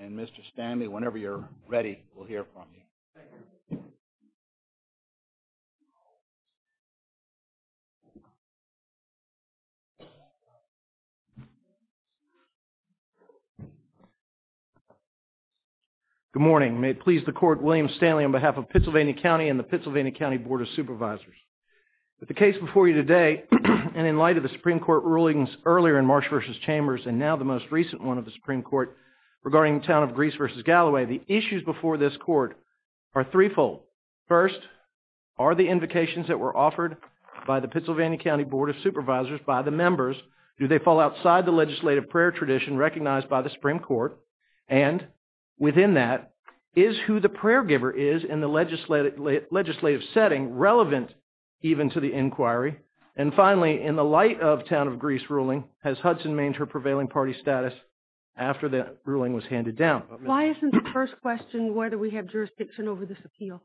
and Mr. Stanley, whenever you're ready, we'll hear from you. Good morning. May it please the court, William Stanley on behalf of Pittsylvania County and the Pittsylvania County Board of Supervisors. With the case before you today and in light of the Supreme Court rulings earlier in March v. Chambers and now the most recent one of the Supreme Court regarding the town of Greece v. Galloway, the issues before this court are threefold. First, are the invocations that were offered by the Pittsylvania County Board of Supervisors by the members, do they fall outside the legislative prayer tradition recognized by the Supreme Court? And within that, is who the prayer giver is in the legislative setting relevant even to the inquiry? And finally, in the light of town of Greece ruling, has Hudson maintained her prevailing party status after that ruling was handed down? Why isn't the first question whether we have jurisdiction over this appeal?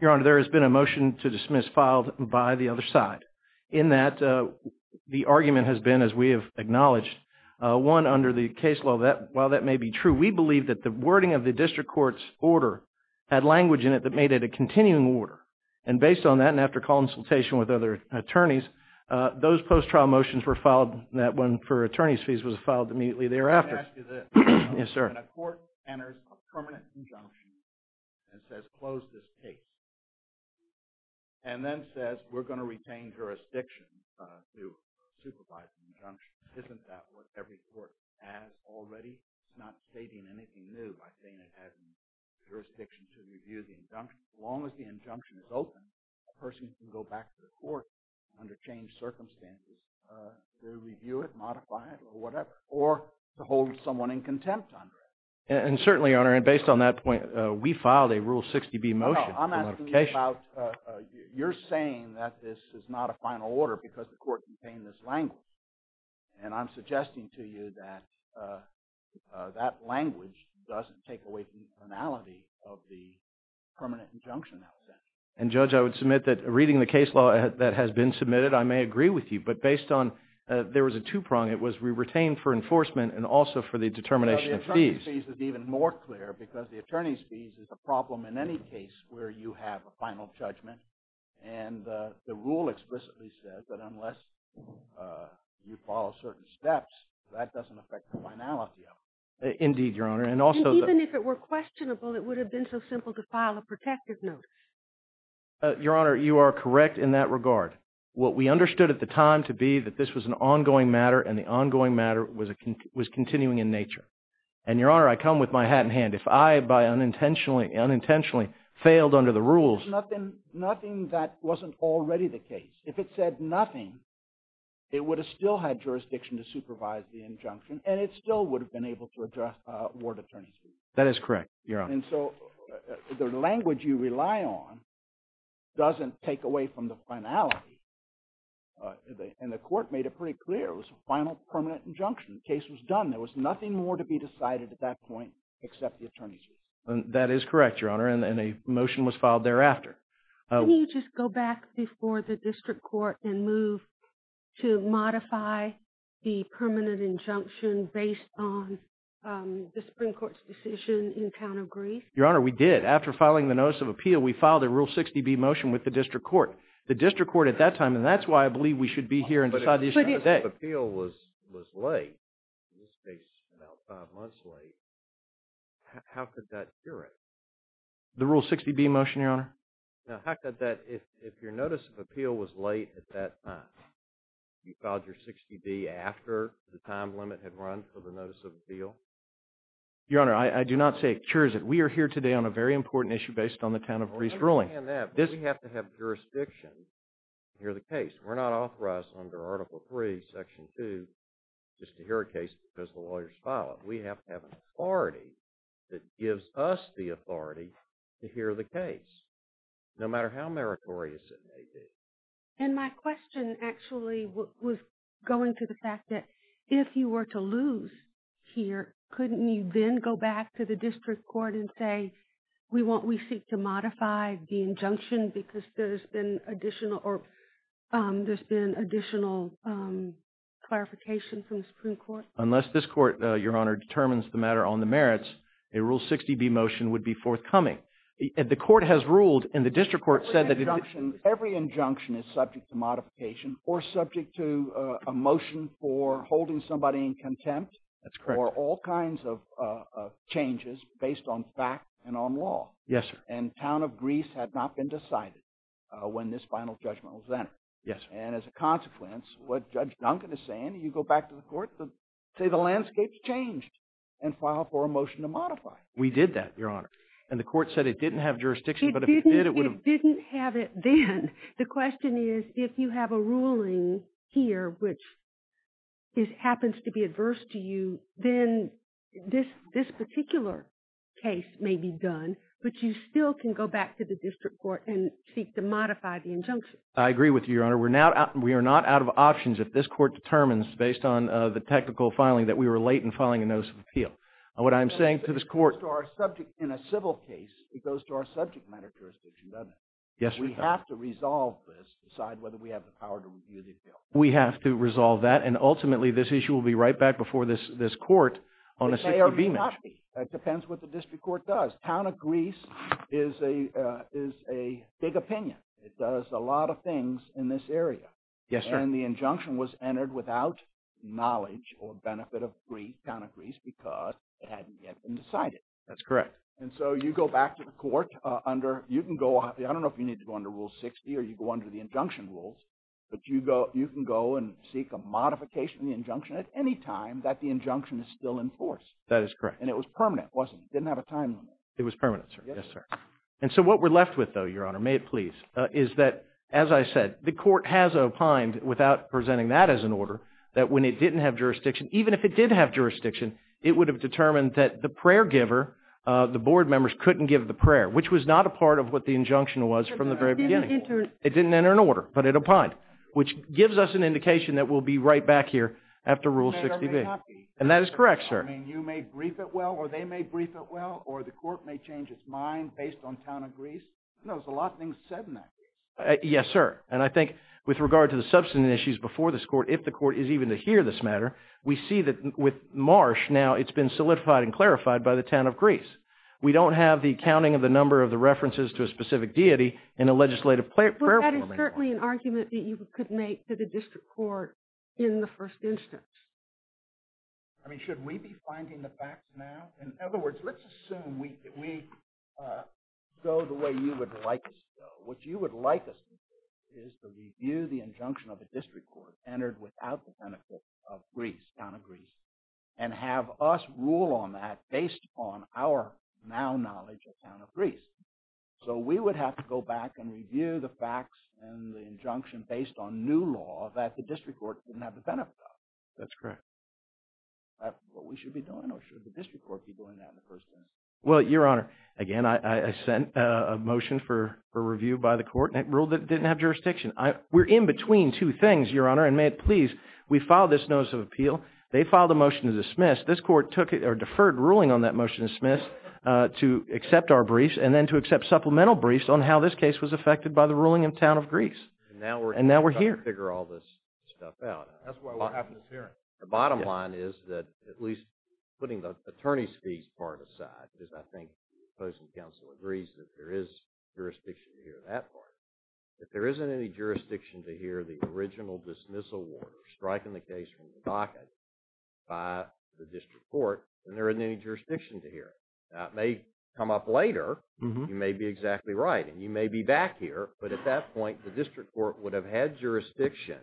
Your Honor, there has been a motion to dismiss filed by the other side in that the argument has been, as we have acknowledged, one under the case law, while that may be true, we believe that the wording of the district court's order had language in it that made it a continuing order. And based on that and after consultation with other attorneys, those post-trial motions were filed, that one for attorney's fees was filed immediately thereafter. May I ask you this? Yes, sir. When a court enters a permanent injunction and says, close this case, and then says, we're going to retain jurisdiction to supervise the injunction, isn't that what every court has already? Not stating anything new by saying it has jurisdiction to review the injunction. As long as the injunction is open, a person can go back to the court under changed circumstances to review it, modify it, or whatever, or to hold someone in contempt under it. And certainly, Your Honor, and based on that point, we filed a Rule 60B motion. I'm asking you about, you're saying that this is not a final order because the court contained this language. And I'm suggesting to you that that language doesn't take away from the finality of the permanent injunction. And Judge, I would submit that reading the case law that has been submitted, I may agree with you. But based on, there was a two-prong. It was, we retained for enforcement and also for the determination of fees. Well, the determination of fees is even more clear because the attorney's fees is a problem in any case where you have a final judgment. And the rule explicitly says that unless you follow certain steps, that doesn't affect the finality of it. Indeed, Your Honor. And even if it were questionable, it would have been so simple to file a protective notice. Your Honor, you are correct in that regard. What we understood at the time to be that this was an ongoing matter, and the ongoing matter was continuing in nature. And, Your Honor, I come with my hat in hand. If I by unintentionally failed under the rules. Nothing that wasn't already the case. If it said nothing, it would have still had jurisdiction to supervise the injunction, and it still would have been able to address ward attorney's fees. That is correct, Your Honor. And so the language you rely on doesn't take away from the finality. And the court made it pretty clear. It was a final permanent injunction. The case was done. There was nothing more to be decided at that point except the attorney's fees. That is correct, Your Honor. And a motion was filed thereafter. Can you just go back before the district court and move to modify the permanent injunction based on the Supreme Court's decision in town of Greece? Your Honor, we did. After filing the notice of appeal, we filed a Rule 60B motion with the district court. The district court at that time, and that's why I believe we should be here and decide the issue today. If the notice of appeal was late, in this case about five months late, how could that cure it? The Rule 60B motion, Your Honor? Now, how could that, if your notice of appeal was late at that time, you filed your 60B after the time limit had run for the notice of appeal? Your Honor, I do not say it cures it. We are here today on a very important issue based on the town of Greece ruling. On the other hand, does he have to have jurisdiction to hear the case? We're not authorized under Article III, Section 2, just to hear a case because the lawyers filed it. We have to have an authority that gives us the authority to hear the case, no matter how meritorious it may be. And my question actually was going to the fact that if you were to lose here, couldn't you then go back to the district court and say, we seek to modify the injunction because there's been additional clarification from the Supreme Court? Unless this court, Your Honor, determines the matter on the merits, a Rule 60B motion would be forthcoming. And the court has ruled, and the district court said that… Every injunction is subject to modification or subject to a motion for holding somebody in contempt. That's correct. Or all kinds of changes based on fact and on law. Yes, sir. And town of Greece had not been decided when this final judgment was entered. Yes, sir. And as a consequence, what Judge Duncan is saying, you go back to the court, say the landscape's changed and file for a motion to modify. We did that, Your Honor. And the court said it didn't have jurisdiction, but if it did, it would have… It didn't have it then. The question is, if you have a ruling here which happens to be adverse to you, then this particular case may be done, but you still can go back to the district court and seek to modify the injunction. I agree with you, Your Honor. We are not out of options if this court determines, based on the technical filing, that we were late in filing a notice of appeal. What I'm saying to this court… In a civil case, it goes to our subject matter jurisdiction, doesn't it? Yes, Your Honor. We have to resolve this, decide whether we have the power to review the appeal. We have to resolve that, and ultimately this issue will be right back before this court on a… It may or may not be. It depends what the district court does. Town of Greece is a big opinion. It does a lot of things in this area. Yes, sir. And the injunction was entered without knowledge or benefit of the town of Greece because it hadn't yet been decided. That's correct. And so you go back to the court under… I don't know if you need to go under Rule 60 or you go under the injunction rules, but you can go and seek a modification of the injunction at any time that the injunction is still in force. That is correct. And it was permanent, wasn't it? It didn't have a time limit. It was permanent, sir. Yes, sir. And so what we're left with, though, Your Honor, may it please, is that, as I said, the court has opined without presenting that as an order that when it didn't have jurisdiction, even if it did have jurisdiction, it would have determined that the prayer giver, the board members, couldn't give the prayer, which was not a part of what the injunction was from the very beginning. It didn't enter an order, but it opined, which gives us an indication that we'll be right back here after Rule 60B. And that is correct, sir. I mean, you may brief it well, or they may brief it well, or the court may change its mind based on town of Greece. There's a lot of things said in that case. Yes, sir. And I think with regard to the substantive issues before this court, if the court is even to hear this matter, we see that with Marsh now it's been solidified and clarified by the town of Greece. We don't have the counting of the number of the references to a specific deity in a legislative prayer form anymore. But that is certainly an argument that you could make to the district court in the first instance. I mean, should we be finding the facts now? In other words, let's assume we go the way you would like us to go. What you would like us to do is to review the injunction of the district court entered without the benefit of Greece, town of Greece, and have us rule on that based on our now knowledge of town of Greece. So we would have to go back and review the facts and the injunction based on new law that the district court didn't have the benefit of. That's correct. Is that what we should be doing or should the district court be doing that in the first instance? Well, Your Honor, again, I sent a motion for review by the court and it ruled that it didn't have jurisdiction. We're in between two things, Your Honor, and may it please, we filed this notice of appeal. They filed a motion to dismiss. This court took it or deferred ruling on that motion to dismiss to accept our briefs and then to accept supplemental briefs on how this case was affected by the ruling in town of Greece. And now we're here. And now we're trying to figure all this stuff out. That's why we're having this hearing. The bottom line is that at least putting the attorney's fees part aside, because I think the opposing counsel agrees that there is jurisdiction to hear that part. If there isn't any jurisdiction to hear the original dismissal order striking the case from the docket by the district court, then there isn't any jurisdiction to hear it. That may come up later. You may be exactly right and you may be back here, but at that point, the district court would have had jurisdiction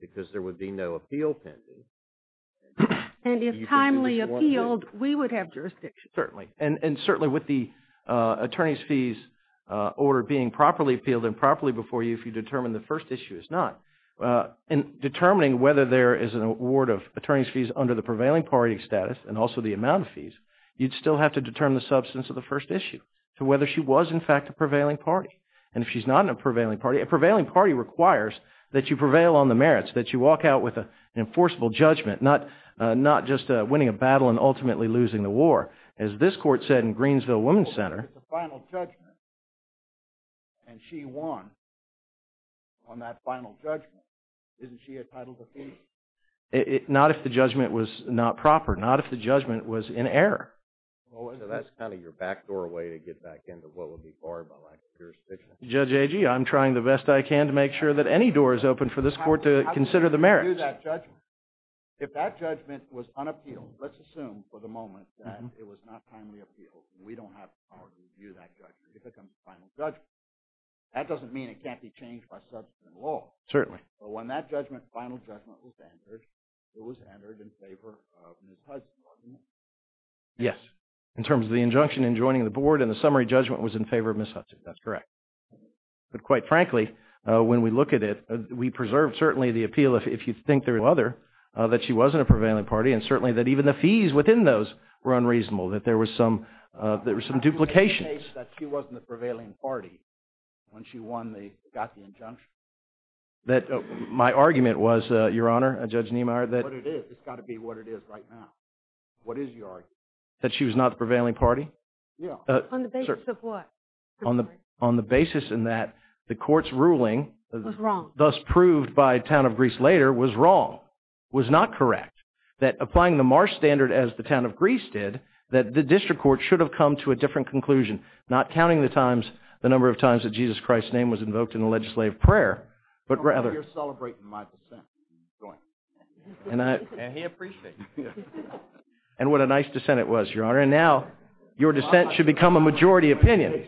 because there would be no appeal pending. And if timely appealed, we would have jurisdiction. Certainly. And certainly with the attorney's fees order being properly appealed and properly before you, if you determine the first issue is not, in determining whether there is an award of attorney's fees under the prevailing party status and also the amount of fees, you'd still have to determine the substance of the first issue to whether she was, in fact, a prevailing party. And if she's not in a prevailing party, a prevailing party requires that you prevail on the merits, that you walk out with an enforceable judgment, not just winning a battle and ultimately losing the war. As this court said in Greensville Women's Center… Well, if it's a final judgment and she won on that final judgment, isn't she entitled to fees? Not if the judgment was not proper. Not if the judgment was in error. Well, that's kind of your backdoor way to get back into what would be barred by lack of jurisdiction. Judge Agee, I'm trying the best I can to make sure that any door is open for this court to consider the merits. If that judgment was unappealed, let's assume for the moment that it was not timely appealed, we don't have the power to review that judgment. It becomes a final judgment. That doesn't mean it can't be changed by subsequent law. Certainly. But when that final judgment was entered, it was entered in favor of Ms. Hudson, wasn't it? Yes. In terms of the injunction in joining the board and the summary judgment was in favor of Ms. Hudson. That's correct. But quite frankly, when we look at it, we preserve certainly the appeal if you think there is no other, that she was in a prevailing party and certainly that even the fees within those were unreasonable, that there were some duplications. Is it the case that she wasn't the prevailing party when she got the injunction? My argument was, Your Honor, Judge Niemeyer, that – But it is. It's got to be what it is right now. What is your argument? That she was not the prevailing party? Yes. On the basis of what? On the basis in that the court's ruling – Was wrong. Thus proved by Town of Greece later was wrong, was not correct. That applying the Marsh standard as the Town of Greece did, that the district court should have come to a different conclusion, not counting the times, the number of times that Jesus Christ's name was invoked in the legislative prayer, but rather – You're celebrating my dissent. And he appreciates it. And what a nice dissent it was, Your Honor. And now your dissent should become a majority opinion.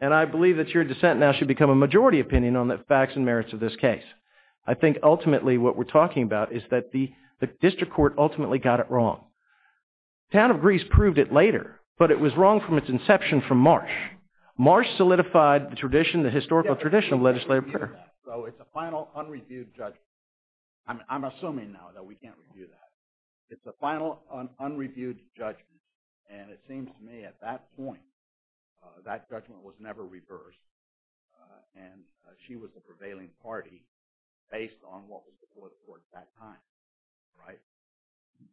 And I believe that your dissent now should become a majority opinion on the facts and merits of this case. I think ultimately what we're talking about is that the district court ultimately got it wrong. Town of Greece proved it later, but it was wrong from its inception from Marsh. Marsh solidified the tradition, the historical tradition of legislative prayer. So it's a final, unreviewed judgment. I'm assuming now that we can't review that. It's a final, unreviewed judgment. And it seems to me at that point, that judgment was never reversed. And she was the prevailing party based on what was before the court at that time. Right?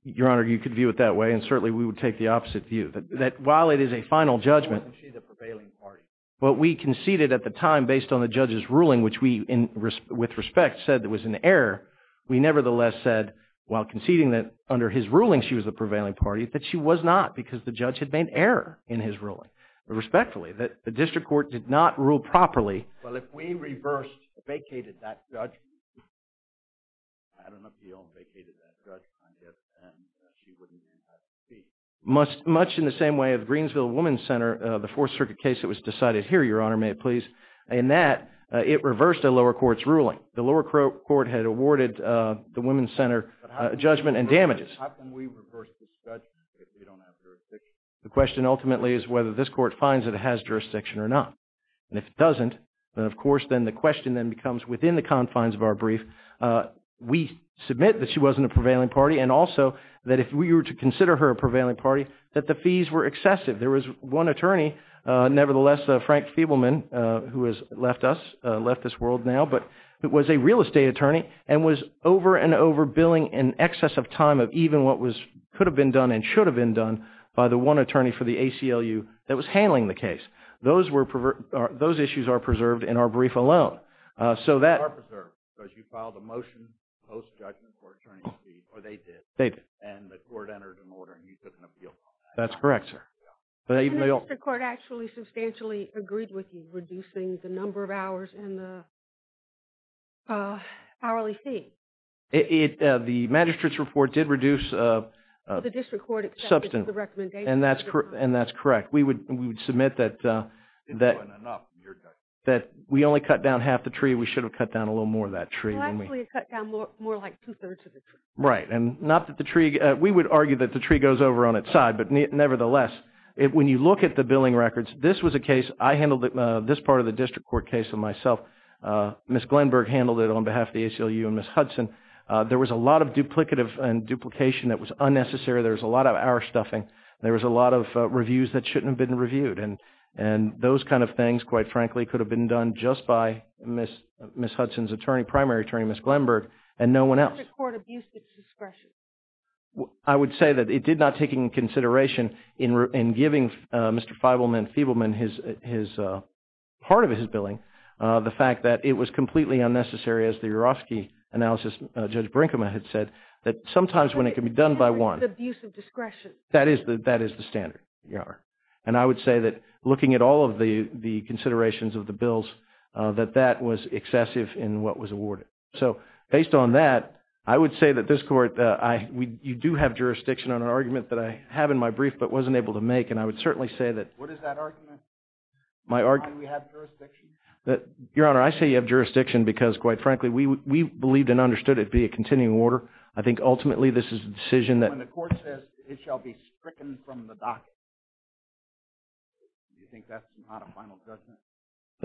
Your Honor, you could view it that way, and certainly we would take the opposite view. That while it is a final judgment – Wasn't she the prevailing party? What we conceded at the time based on the judge's ruling, which we, with respect, said was an error, we nevertheless said, while conceding that under his ruling she was the prevailing party, that she was not because the judge had made error in his ruling. Respectfully, that the district court did not rule properly. Well, if we reversed, vacated that judgment, had an appeal and vacated that judgment, I guess then she wouldn't have to speak. Much in the same way of the Greensville Women's Center, the Fourth Circuit case that was decided here, Your Honor, may it please, in that it reversed a lower court's ruling. The lower court had awarded the Women's Center judgment and damages. But how can we reverse this judgment if we don't have jurisdiction? The question ultimately is whether this court finds that it has jurisdiction or not. And if it doesn't, then of course the question then becomes, within the confines of our brief, we submit that she wasn't a prevailing party and also that if we were to consider her a prevailing party, that the fees were excessive. There was one attorney, nevertheless, Frank Feebleman, who has left us, left this world now, but was a real estate attorney and was over and over billing in excess of time of even what could have been done and should have been done by the one attorney for the ACLU that was handling the case. Those issues are preserved in our brief alone. They are preserved because you filed a motion post-judgment for attorney's fees, or they did, and the court entered an order and you couldn't appeal on that. That's correct, sir. And the court actually substantially agreed with you, reducing the number of hours and the hourly fee. The magistrate's report did reduce substance. The district court accepted the recommendation. And that's correct. We would submit that we only cut down half the tree. We should have cut down a little more of that tree. Well, actually it cut down more like two-thirds of the tree. Right, and not that the tree, we would argue that the tree goes over on its side, but nevertheless, when you look at the billing records, this was a case, I handled this part of the district court case on myself. Ms. Glenberg handled it on behalf of the ACLU and Ms. Hudson. There was a lot of duplicative and duplication that was unnecessary. There was a lot of hour stuffing. There was a lot of reviews that shouldn't have been reviewed. And those kind of things, quite frankly, could have been done just by Ms. Hudson's attorney, primary attorney, Ms. Glenberg, and no one else. The district court abused its discretion. I would say that it did not take into consideration in giving Mr. Feibelman part of his billing the fact that it was completely unnecessary, as the Urofsky analysis, Judge Brinkman had said, that sometimes when it can be done by one. But the district court's abuse of discretion. That is the standard. And I would say that looking at all of the considerations of the bills, that that was excessive in what was awarded. So based on that, I would say that this court, you do have jurisdiction on an argument that I have in my brief but wasn't able to make, and I would certainly say that. What is that argument? Do we have jurisdiction? Your Honor, I say you have jurisdiction because, quite frankly, we believed and understood it to be a continuing order. I think ultimately this is a decision that. When the court says it shall be stricken from the docket, do you think that's not a final judgment?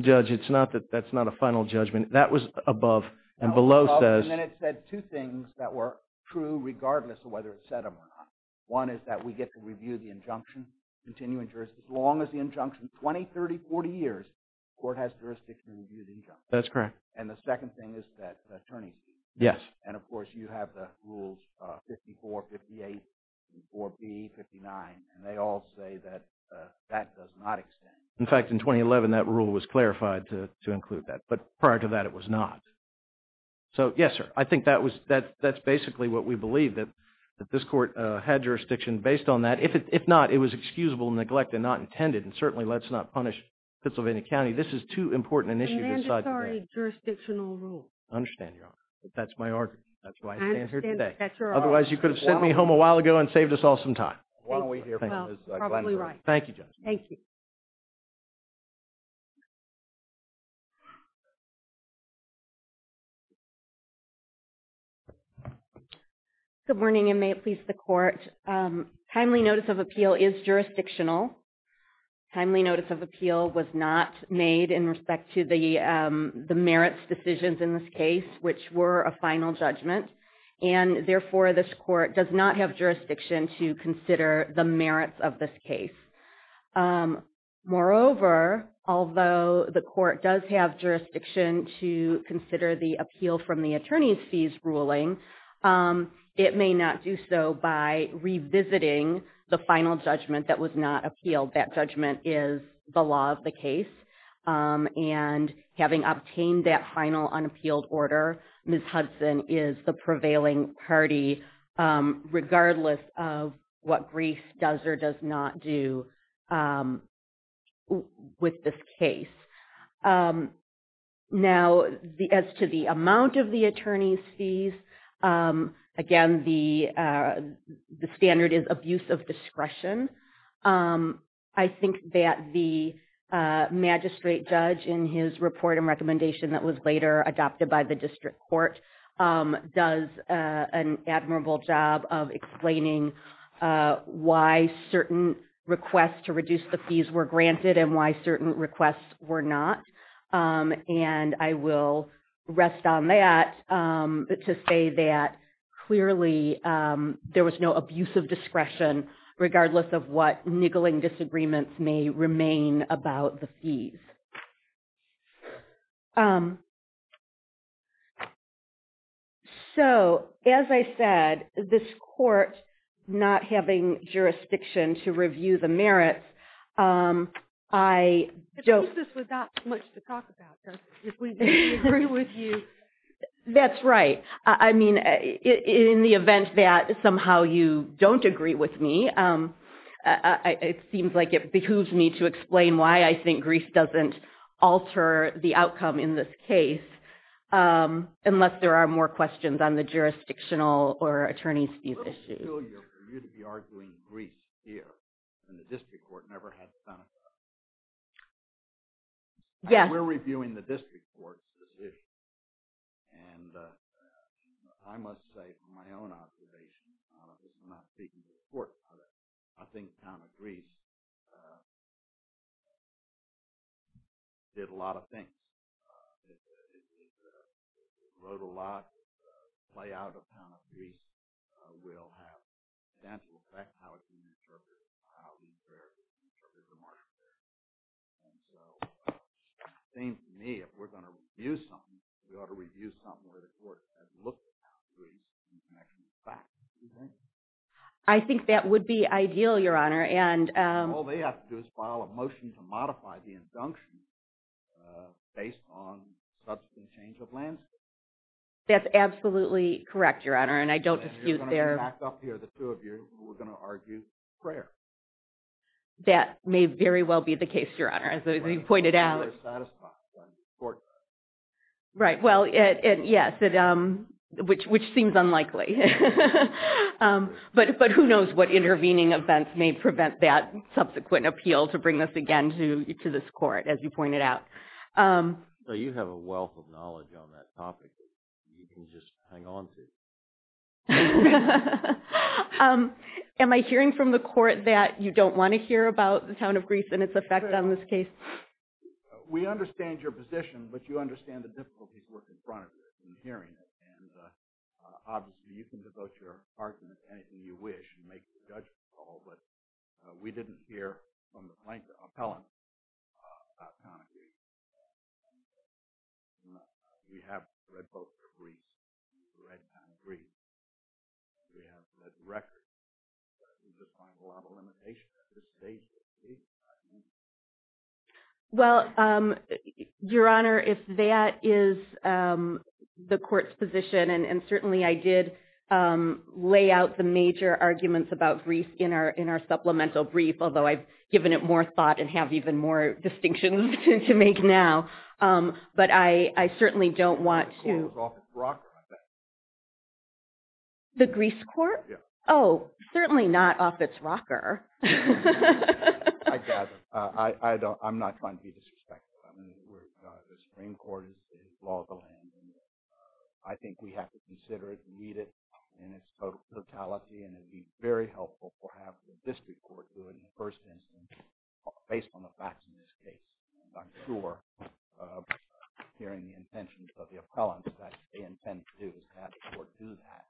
Judge, it's not that that's not a final judgment. That was above. And below says. And it said two things that were true regardless of whether it said them or not. One is that we get to review the injunction, continuing jurisdiction. As long as the injunction, 20, 30, 40 years, the court has jurisdiction to review the injunction. That's correct. And the second thing is that the attorney. Yes. And, of course, you have the rules 54, 58, 54B, 59, and they all say that that does not extend. In fact, in 2011, that rule was clarified to include that. But prior to that, it was not. So, yes, sir. I think that's basically what we believe, that this court had jurisdiction based on that. If not, it was excusable neglect and not intended. And certainly, let's not punish Pennsylvania County. This is too important an issue to decide today. Mandatory jurisdictional rules. I understand, Your Honor. That's my argument. That's why I'm standing here today. Otherwise, you could have sent me home a while ago and saved us all some time. Well, we hear from Ms. Glenn. Thank you, Judge. Thank you. Good morning and may it please the Court. Timely notice of appeal is jurisdictional. Timely notice of appeal was not made in respect to the merits decisions in this case, which were a final judgment. And, therefore, this court does not have jurisdiction to consider the merits of this case. Moreover, although the court does have jurisdiction to consider the appeal from the attorney's fees ruling, it may not do so by revisiting the final judgment that was not appealed. That judgment is the law of the case. And having obtained that final unappealed order, Ms. Hudson is the prevailing party, regardless of what Greece does or does not do with this case. Now, as to the amount of the attorney's fees, again, the standard is abuse of discretion. I think that the magistrate judge in his report and recommendation that was later adopted by the district court does an admirable job of explaining why certain requests to reduce the fees were granted and why certain requests were not. And I will rest on that to say that, clearly, there was no abuse of discretion, regardless of what niggling disagreements may remain about the fees. So, as I said, this court not having jurisdiction to review the merits, I don't… I think this was not much to talk about, if we didn't agree with you. That's right. I mean, in the event that somehow you don't agree with me, it seems like it behooves me to explain why I think Greece doesn't alter the outcome in this case, unless there are more questions on the jurisdictional or attorney's fees issues. It's a little peculiar for you to be arguing Greece here when the district court never had Seneca. Yes. And we're reviewing the district court's position. And I must say, from my own observation, I'm not speaking for the court, but I think the town of Greece did a lot of things. It wrote a lot. The play out of the town of Greece will have a substantial effect on how it's being interpreted and how these variables are being interpreted in martial law. And so, it seems to me, if we're going to review something, we ought to review something where the court has looked at Greece in connection with facts. What do you think? I think that would be ideal, Your Honor, and… All they have to do is file a motion to modify the injunction based on substantive change of landscape. That's absolutely correct, Your Honor, and I don't dispute their… You're going to come back up here, the two of you, and we're going to argue prayer. That may very well be the case, Your Honor, as you pointed out. It's not as possible on the court side. Right. Well, yes, which seems unlikely. But who knows what intervening events may prevent that subsequent appeal to bring this again to this court, as you pointed out. You have a wealth of knowledge on that topic that you can just hang on to. Am I hearing from the court that you don't want to hear about the town of Greece and its effect on this case? We understand your position, but you understand the difficulties we're confronted with in hearing it. And, obviously, you can devote your argument to anything you wish and make the judgment call, but we didn't hear from the plaintiff's appellant about the town of Greece. We have read both the briefs. We have read the records. We just find a lot of limitations. It's dangerous. Well, Your Honor, if that is the court's position, and certainly I did lay out the major arguments about Greece in our supplemental brief, although I've given it more thought and have even more distinctions to make now, but I certainly don't want to— The court is off its rocker, I bet. The Greece court? Yes. Oh, certainly not off its rocker. I gather. I'm not trying to be disrespectful. I mean, the Supreme Court is the law of the land, and I think we have to consider it and read it in its totality, and it would be very helpful to have the district court do it in the first instance, based on the facts in this case. And I'm sure, hearing the intentions of the appellants, that what they intend to do is have the court do that,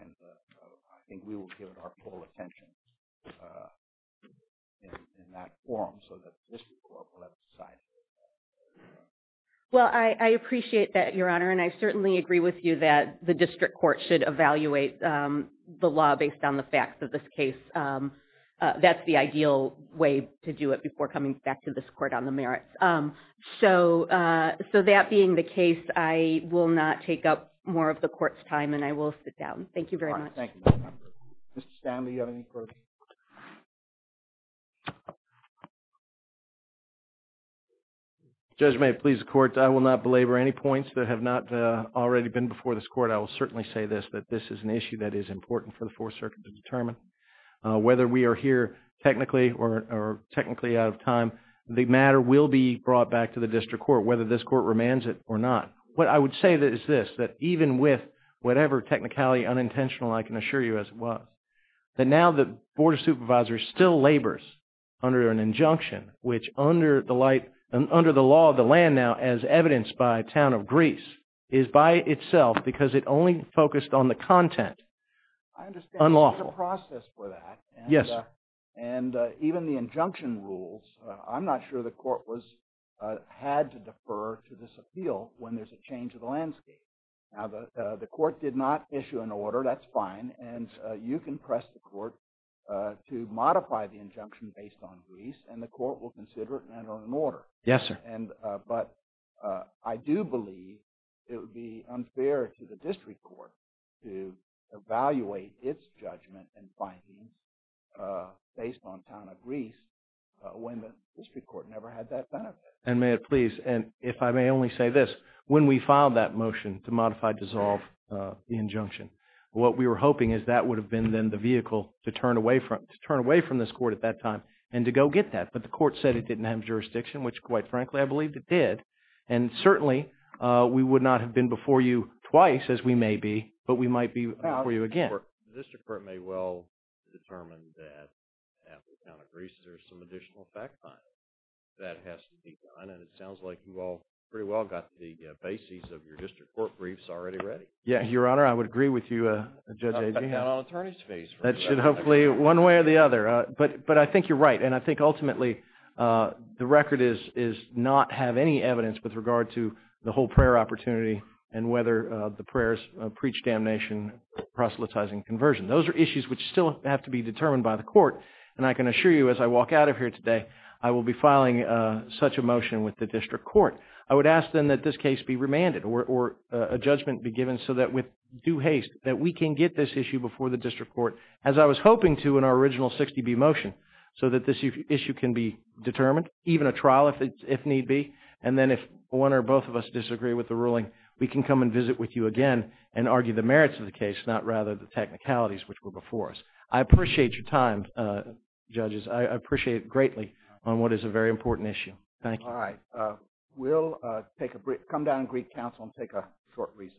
and I think we will give it our full attention in that forum so that the district court will have to decide. Well, I appreciate that, Your Honor, and I certainly agree with you that the district court should evaluate the law based on the facts of this case. That's the ideal way to do it before coming back to this court on the merits. So that being the case, I will not take up more of the court's time, and I will sit down. Thank you very much. Thank you. Mr. Stanley, do you have any questions? Judge, may it please the court, I will not belabor any points that have not already been before this court. I will certainly say this, that this is an issue that is important for the Fourth Circuit to determine. Whether we are here technically or technically out of time, the matter will be brought back to the district court, whether this court remands it or not. What I would say is this, that even with whatever technicality, unintentional, I can assure you as it was, that now the Board of Supervisors still labors under an injunction, which under the law of the land now, as evidenced by a town of Greece, is by itself, because it only focused on the content, unlawful. I understand there's a process for that. Yes, sir. And even the injunction rules, I'm not sure the court had to defer to this appeal when there's a change of the landscape. Now, the court did not issue an order, that's fine, and you can press the court to modify the injunction based on Greece, and the court will consider it under an order. Yes, sir. But I do believe it would be unfair to the district court to evaluate its judgment and findings based on a town of Greece, when the district court never had that benefit. And may it please, and if I may only say this, when we filed that motion to modify, dissolve the injunction, what we were hoping is that would have been then the vehicle to turn away from this court at that time and to go get that. But the court said it didn't have jurisdiction, which quite frankly I believe it did, and certainly we would not have been before you twice, as we may be, but we might be before you again. Your Honor, the district court may well determine that at the town of Greece there's some additional fact-finding that has to be done, and it sounds like you all pretty well got the bases of your district court briefs already ready. Yeah, Your Honor, I would agree with you, Judge Agee. Not on an attorney's face. That should hopefully, one way or the other. But I think you're right, and I think ultimately the record is not have any evidence with regard to the whole prayer opportunity and whether the prayers preach damnation, proselytizing, conversion. Those are issues which still have to be determined by the court, and I can assure you as I walk out of here today, I will be filing such a motion with the district court. I would ask then that this case be remanded or a judgment be given so that with due haste that we can get this issue before the district court, as I was hoping to in our original 60B motion, so that this issue can be determined, even a trial if need be, and then if one or both of us disagree with the ruling, we can come and visit with you again and argue the merits of the case, not rather the technicalities which were before us. I appreciate your time, judges. I appreciate it greatly on what is a very important issue. Thank you. All right. We'll come down to Greek Council and take a short recess.